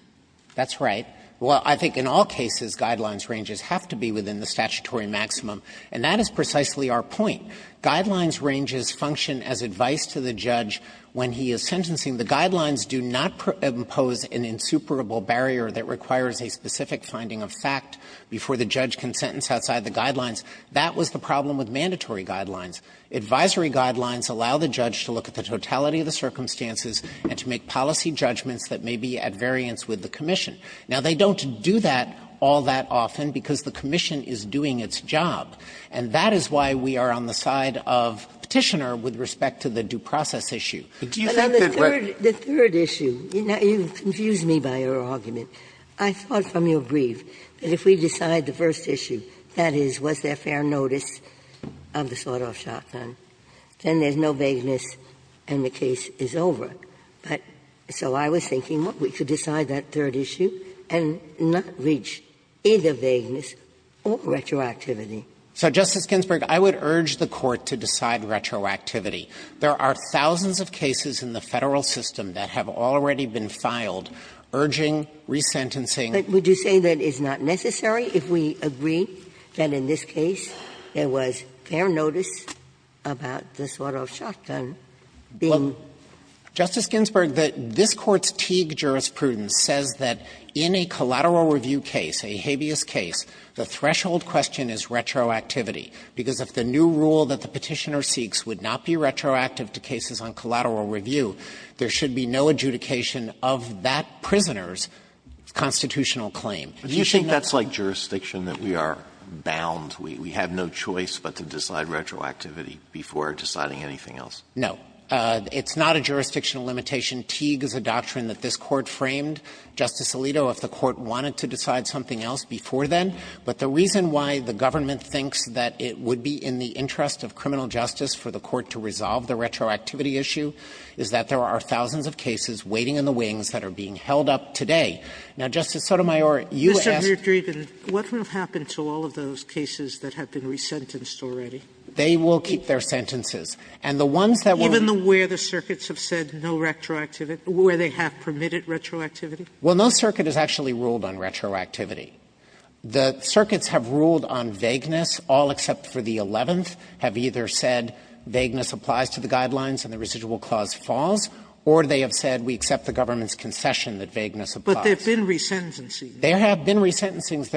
That's right. Well, I think in all cases, guidelines ranges have to be within the statutory maximum, and that is precisely our point. Guidelines ranges function as advice to the judge when he is sentencing. The guidelines do not impose an insuperable barrier that requires a specific finding of fact before the judge can sentence outside the guidelines. That was the problem with mandatory guidelines. Advisory guidelines allow the judge to look at the totality of the circumstances and to make policy judgments that may be at variance with the commission. Now, they don't do that all that often because the commission is doing its job, and that is why we are on the side of Petitioner with respect to the due process issue. Do you think that we're going to do that? The third issue, you confuse me by your argument. I thought from your brief that if we decide the first issue, that is, was there fair notice of the sawed-off shotgun, then there's no vagueness and the case is over. But so I was thinking we could decide that third issue and not reach either vagueness or retroactivity. So, Justice Ginsburg, I would urge the Court to decide retroactivity. There are thousands of cases in the Federal system that have already been filed urging resentencing. But would you say that it's not necessary if we agree that in this case there was fair notice about the sawed-off shotgun being? Dreeben. Justice Ginsburg, this Court's Teague jurisprudence says that in a collateral review case, a habeas case, the threshold question is retroactivity, because if the new rule that the Petitioner seeks would not be retroactive to cases on collateral review, there should be no adjudication of that prisoner's constitutional claim. Do you think that's like jurisdiction, that we are bound, we have no choice but to decide retroactivity? It's not a jurisdictional limitation. Teague is a doctrine that this Court framed, Justice Alito, if the Court wanted to decide something else before then. But the reason why the government thinks that it would be in the interest of criminal justice for the Court to resolve the retroactivity issue is that there are thousands of cases waiting in the wings that are being held up today. Now, Justice Sotomayor, you asked me to. Sotomayor, what will happen to all of those cases that have been resentenced already? They will keep their sentences. And the ones that will be resented are the ones that are not. Sotomayor, even where the circuits have said no retroactivity, where they have permitted retroactivity? Well, no circuit has actually ruled on retroactivity. The circuits have ruled on vagueness. All except for the 11th have either said vagueness applies to the guidelines and the residual clause falls, or they have said we accept the government's concession that vagueness applies. But there have been resentencings. There have been resentencings.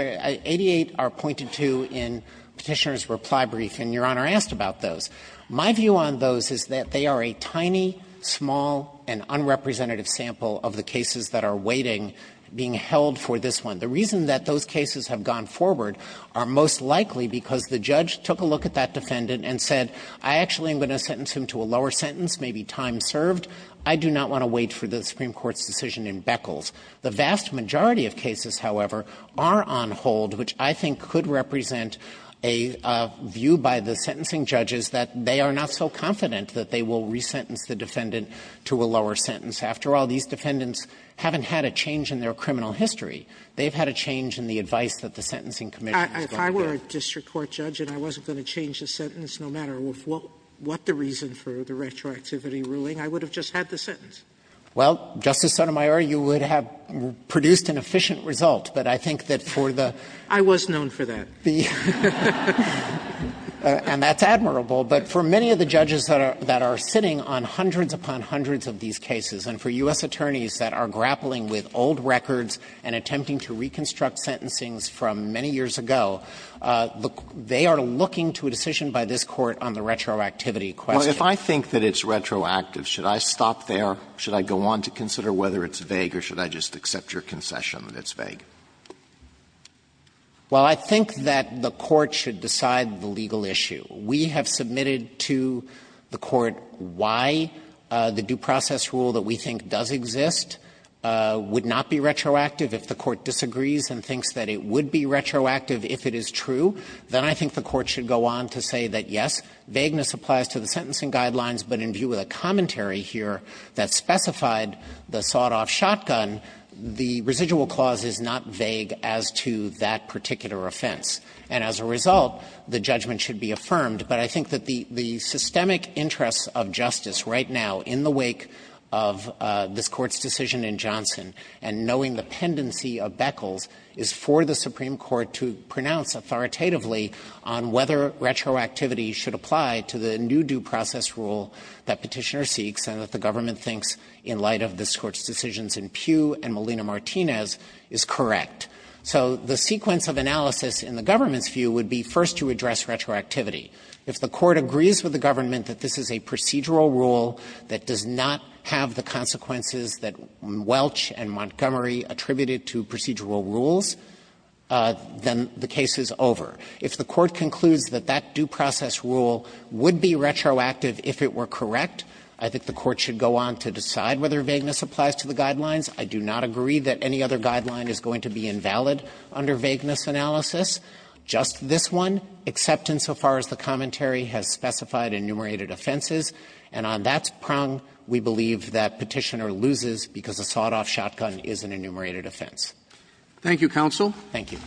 88 are pointed to in Petitioner's reply brief, and Your Honor asked about those. My view on those is that they are a tiny, small, and unrepresentative sample of the cases that are waiting, being held for this one. The reason that those cases have gone forward are most likely because the judge took a look at that defendant and said, I actually am going to sentence him to a lower sentence, maybe time served. I do not want to wait for the Supreme Court's decision in Beckles. The vast majority of cases, however, are on hold, which I think could represent a view by the sentencing judges that they are not so confident that they will resentence the defendant to a lower sentence. After all, these defendants haven't had a change in their criminal history. They have had a change in the advice that the Sentencing Commission has given them. Sotomayor, you would have produced an efficient result, but I think that for the the And that's admirable, but for many of the judges that are sitting on hundreds upon hundreds of these cases, and for U.S. attorneys that are grappling with old records and attempting to reconstruct sentencings from many years ago, they are looking to a decision by this Court on the retroactivity question. Alito, if I think that it's retroactive, should I stop there? Should I go on to consider whether it's vague, or should I just accept your concession that it's vague? Dreeben, I think that the Court should decide the legal issue. We have submitted to the Court why the due process rule that we think does exist would not be retroactive. If the Court disagrees and thinks that it would be retroactive if it is true, then I think the Court should go on to say that, yes, vagueness applies to the sentencing guidelines, but in view of the commentary here that specified the sawed-off shotgun, the residual clause is not vague as to that particular offense. And as a result, the judgment should be affirmed. But I think that the systemic interest of justice right now in the wake of this Court's decision in Johnson, and knowing the pendency of Beckles, is for the Supreme Court to pronounce authoritatively on whether retroactivity should apply to the new due process rule that Petitioner seeks and that the government thinks in light of this Court's decisions in Pugh and Molina-Martinez is correct. So the sequence of analysis in the government's view would be first to address retroactivity. If the Court agrees with the government that this is a procedural rule that does not have the consequences that Welch and Montgomery attributed to procedural rules, then the case is over. If the Court concludes that that due process rule would be retroactive if it were I do not agree that any other guideline is going to be invalid under vagueness analysis. Just this one, except insofar as the commentary has specified enumerated offenses. And on that prong, we believe that Petitioner loses because a sawed-off shotgun is an enumerated offense. Roberts. Thank you, counsel. Thank you.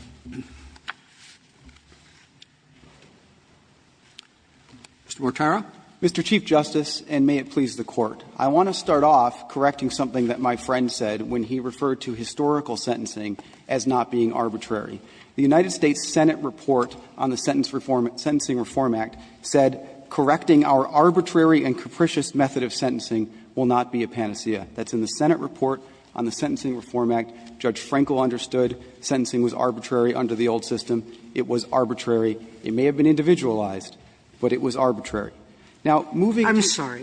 Mr. Mortara. Mr. Chief Justice, and may it please the Court. I want to start off correcting something that my friend said when he referred to historical sentencing as not being arbitrary. The United States Senate report on the Sentencing Reform Act said, Correcting our arbitrary and capricious method of sentencing will not be a panacea. That's in the Senate report on the Sentencing Reform Act. Judge Frenkel understood sentencing was arbitrary under the old system. It was arbitrary. It may have been individualized, but it was arbitrary. Sotomayor,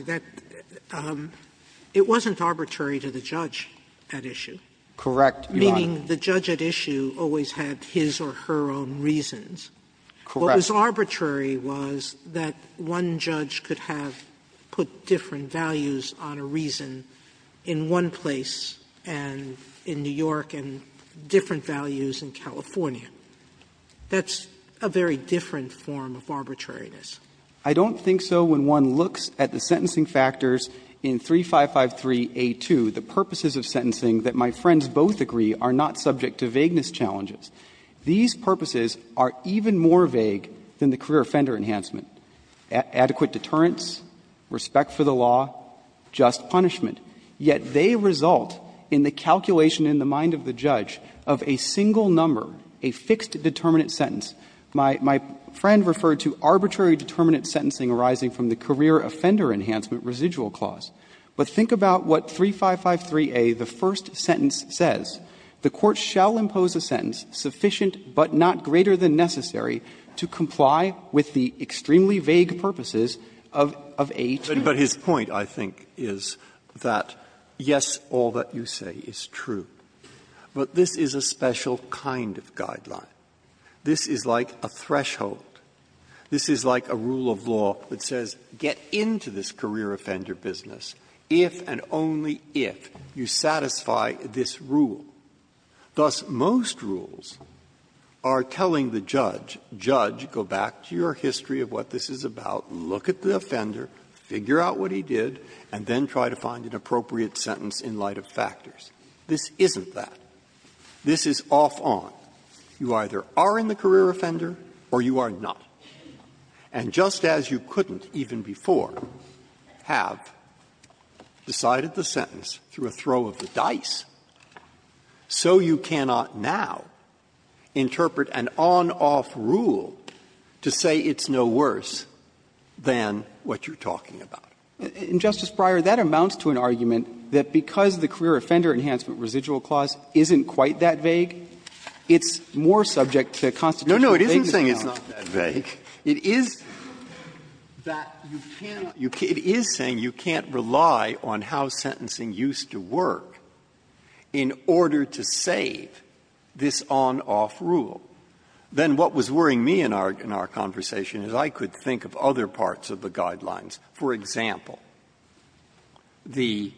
it wasn't arbitrary to the judge at issue. Correct, Your Honor. Meaning the judge at issue always had his or her own reasons. Correct. What was arbitrary was that one judge could have put different values on a reason in one place and in New York and different values in California. That's a very different form of arbitrariness. I don't think so when one looks at the sentencing factors in 3553a2, the purposes of sentencing that my friends both agree are not subject to vagueness challenges. These purposes are even more vague than the career offender enhancement. Adequate deterrence, respect for the law, just punishment. Yet they result in the calculation in the mind of the judge of a single number, a fixed determinant sentence. My friend referred to arbitrary determinant sentencing arising from the career offender enhancement residual clause. But think about what 3553a, the first sentence, says. The Court shall impose a sentence sufficient but not greater than necessary to comply with the extremely vague purposes of a two. But his point, I think, is that, yes, all that you say is true. But this is a special kind of guideline. This is like a threshold. This is like a rule of law that says get into this career offender business if and only if you satisfy this rule. Thus, most rules are telling the judge, judge, go back to your history of what this is about, look at the offender, figure out what he did, and then try to find an appropriate sentence in light of factors. This isn't that. This is off on. You either are in the career offender or you are not. And just as you couldn't even before have decided the sentence through a throw of the dice, so you cannot now interpret an on-off rule to say it's no worse than what you're talking about. And, Justice Breyer, that amounts to an argument that because the career offender enhancement residual clause isn't quite that vague, it's more subject to constitutional vagueness. Breyer, No, no, it isn't saying it's not that vague. It is that you can't rely on how sentencing used to work in order to save this on-off rule. Then what was worrying me in our conversation is I could think of other parts of the guidelines. For example, the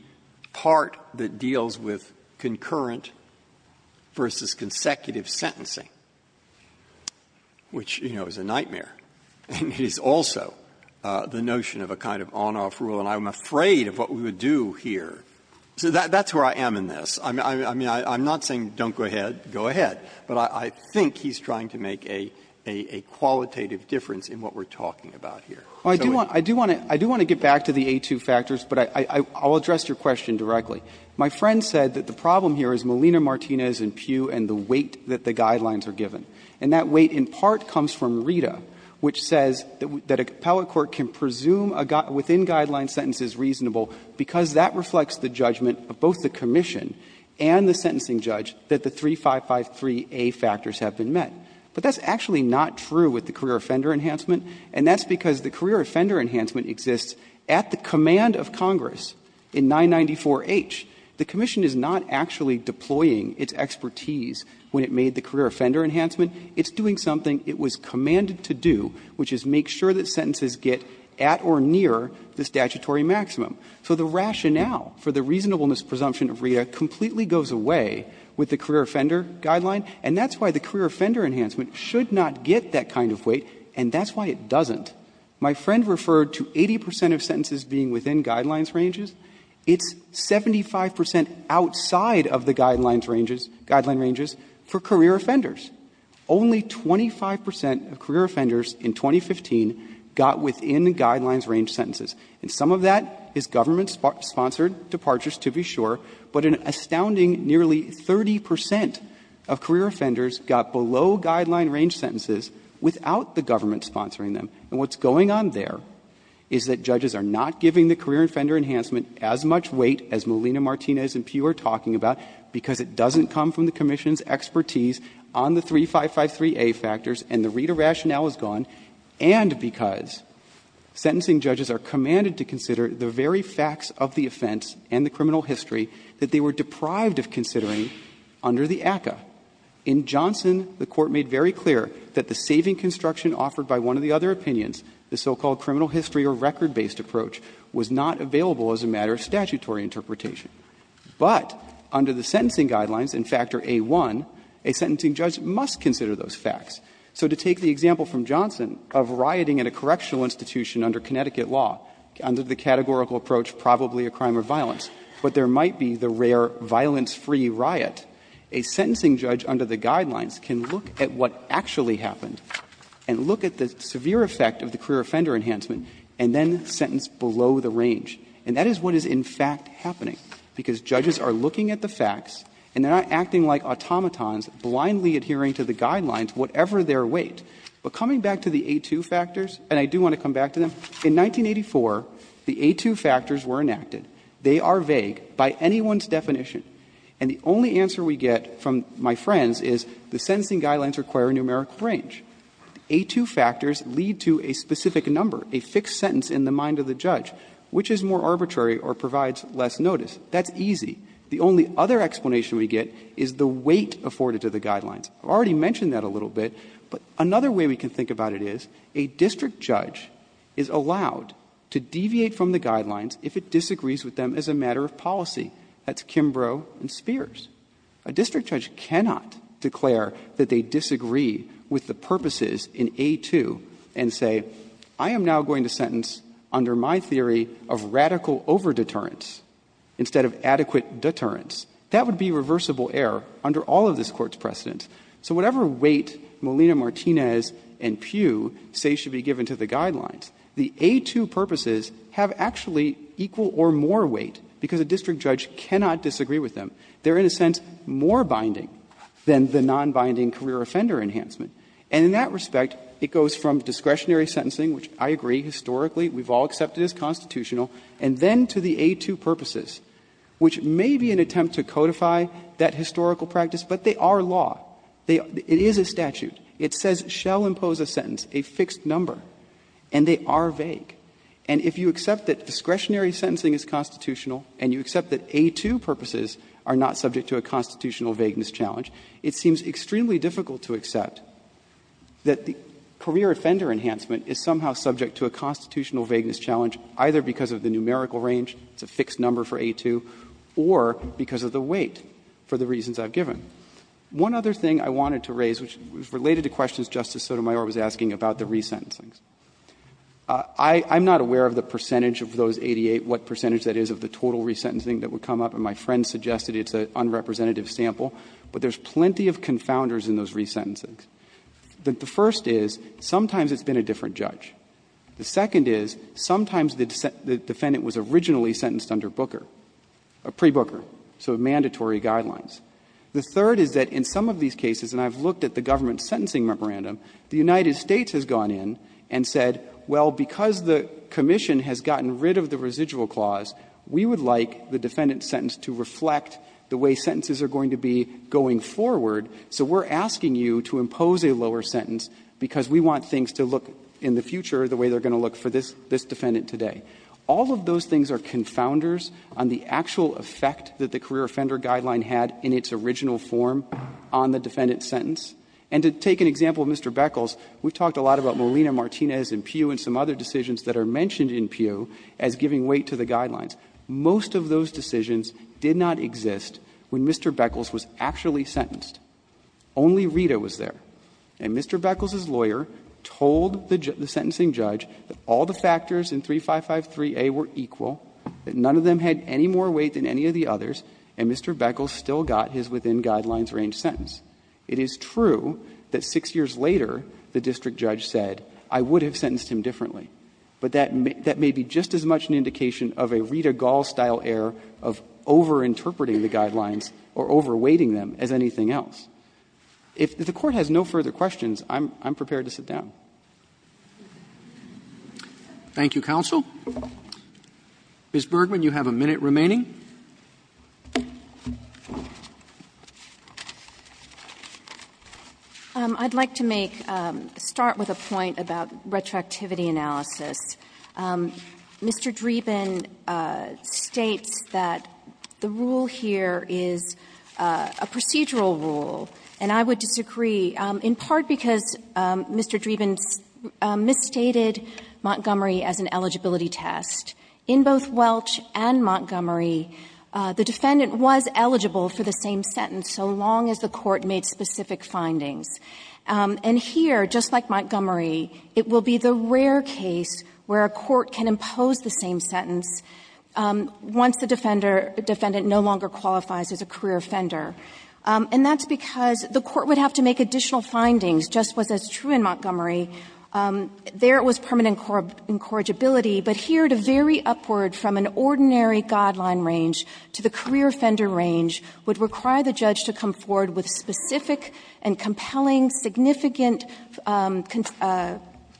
part that deals with concurrent versus consecutive sentencing, which, you know, is a nightmare, is also the notion of a kind of on-off rule. And I'm afraid of what we would do here. So that's where I am in this. I mean, I'm not saying don't go ahead, go ahead. But I think he's trying to make a qualitative difference in what we're talking about here. Well, I do want to get back to the A-2 factors, but I'll address your question directly. My friend said that the problem here is Molina-Martinez and Pew and the weight that the guidelines are given. And that weight in part comes from RITA, which says that a appellate court can presume within guideline sentences reasonable because that reflects the judgment of both the commission and the sentencing judge that the 3553A factors have been met. But that's actually not true with the career offender enhancement, and that's because the career offender enhancement exists at the command of Congress in 994H. The commission is not actually deploying its expertise when it made the career offender enhancement. It's doing something it was commanded to do, which is make sure that sentences get at or near the statutory maximum. So the rationale for the reasonableness presumption of RITA completely goes away with the career offender guideline, and that's why the career offender enhancement should not get that kind of weight, and that's why it doesn't. My friend referred to 80 percent of sentences being within guidelines ranges. It's 75 percent outside of the guidelines ranges, guideline ranges for career offenders. Only 25 percent of career offenders in 2015 got within guidelines range sentences. And some of that is government-sponsored departures, to be sure, but an astounding nearly 30 percent of career offenders got below guideline range sentences without the government sponsoring them. And what's going on there is that judges are not giving the career offender enhancement as much weight as Molina, Martinez, and Pugh are talking about because it doesn't come from the commission's expertise on the 3553A factors and the RITA rationale is gone, and because sentencing judges are commanded to consider the very facts of the offense and the criminal history that they were deprived of considering under the ACCA. In Johnson, the Court made very clear that the saving construction offered by one of the other opinions, the so-called criminal history or record-based approach, was not available as a matter of statutory interpretation. But under the sentencing guidelines in Factor A-1, a sentencing judge must consider those facts. And that is what is in fact happening, because judges are looking at the facts and they are not acting like automatons, blindly adhering to the guidelines, whatever their weight. But coming back to the A-2 factors, and I do want to come back to them, because in 1984, the A-2 factors were enacted. They are vague by anyone's definition. And the only answer we get from my friends is the sentencing guidelines require a numerical range. The A-2 factors lead to a specific number, a fixed sentence in the mind of the judge. Which is more arbitrary or provides less notice? That's easy. The only other explanation we get is the weight afforded to the guidelines. I've already mentioned that a little bit, but another way we can think about it is that a district judge is allowed to deviate from the guidelines if it disagrees with them as a matter of policy. That's Kimbrough and Spears. A district judge cannot declare that they disagree with the purposes in A-2 and say, I am now going to sentence under my theory of radical over-deterrence instead of adequate deterrence. That would be reversible error under all of this Court's precedent. So whatever weight Molina-Martinez and Pugh say should be given to the guidelines, the A-2 purposes have actually equal or more weight because a district judge cannot disagree with them. They are, in a sense, more binding than the non-binding career offender enhancement. And in that respect, it goes from discretionary sentencing, which I agree historically we've all accepted as constitutional, and then to the A-2 purposes, which may be an attempt to codify that historical practice, but they are law. It is a statute. It says, shall impose a sentence, a fixed number, and they are vague. And if you accept that discretionary sentencing is constitutional and you accept that A-2 purposes are not subject to a constitutional vagueness challenge, it seems extremely difficult to accept that the career offender enhancement is somehow subject to a constitutional vagueness challenge, either because of the numerical range, it's a fixed number for A-2, or because of the weight for the reasons I've given. One other thing I wanted to raise, which is related to questions Justice Sotomayor was asking about the resentencings. I'm not aware of the percentage of those 88, what percentage that is of the total resentencing that would come up, and my friend suggested it's an unrepresentative sample, but there's plenty of confounders in those resentencings. The first is, sometimes it's been a different judge. The second is, sometimes the defendant was originally sentenced under Booker, pre-Booker, so mandatory guidelines. The third is that in some of these cases, and I've looked at the government's sentencing memorandum, the United States has gone in and said, well, because the commission has gotten rid of the residual clause, we would like the defendant's sentence to reflect the way sentences are going to be going forward, so we're asking you to impose a lower sentence because we want things to look in the future the way they're going to look for this defendant today. All of those things are confounders on the actual effect that the career offender guideline had in its original form on the defendant's sentence. And to take an example of Mr. Beckles, we've talked a lot about Molina-Martinez and Pew and some other decisions that are mentioned in Pew as giving weight to the guidelines. Most of those decisions did not exist when Mr. Beckles was actually sentenced. Only Rita was there. And Mr. Beckles' lawyer told the sentencing judge that all the factors in 3553A were equal, that none of them had any more weight than any of the others, and Mr. Beckles still got his within-guidelines-range sentence. It is true that 6 years later, the district judge said, I would have sentenced him differently. But that may be just as much an indication of a Rita Gall-style error of over-interpreting the guidelines or over-weighting them as anything else. If the Court has no further questions, I'm prepared to sit down. Thank you, counsel. Ms. Bergman, you have a minute remaining. Bergman. I'd like to make ‑‑ start with a point about retroactivity analysis. Mr. Dreeben states that the rule here is a procedural rule, and I would disagree, in part because Mr. Dreeben misstated Montgomery as an eligibility test. In both Welch and Montgomery, the defendant was eligible for the same sentence so long as the Court made specific findings. And here, just like Montgomery, it will be the rare case where a court can impose the same sentence once the defendant no longer qualifies as a career offender. And that's because the Court would have to make additional findings, just as was true in Montgomery. There, it was permanent incorrigibility, but here, to vary upward from an ordinary guideline range to the career offender range would require the judge to come forward with specific and compelling, significant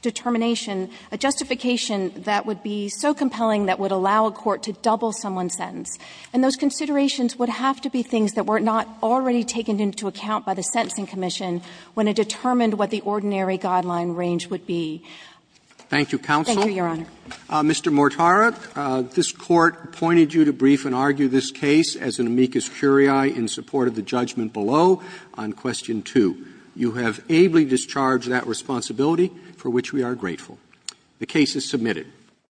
determination, a justification that would be so compelling that would allow a court to double someone's sentence. And those considerations would have to be things that were not already taken into account by the Sentencing Commission when it determined what the ordinary guideline range would be. Roberts. Thank you, counsel. Thank you, Your Honor. Mr. Mortara, this Court appointed you to brief and argue this case as an amicus curiae in support of the judgment below on question 2. You have ably discharged that responsibility, for which we are grateful. The case is submitted.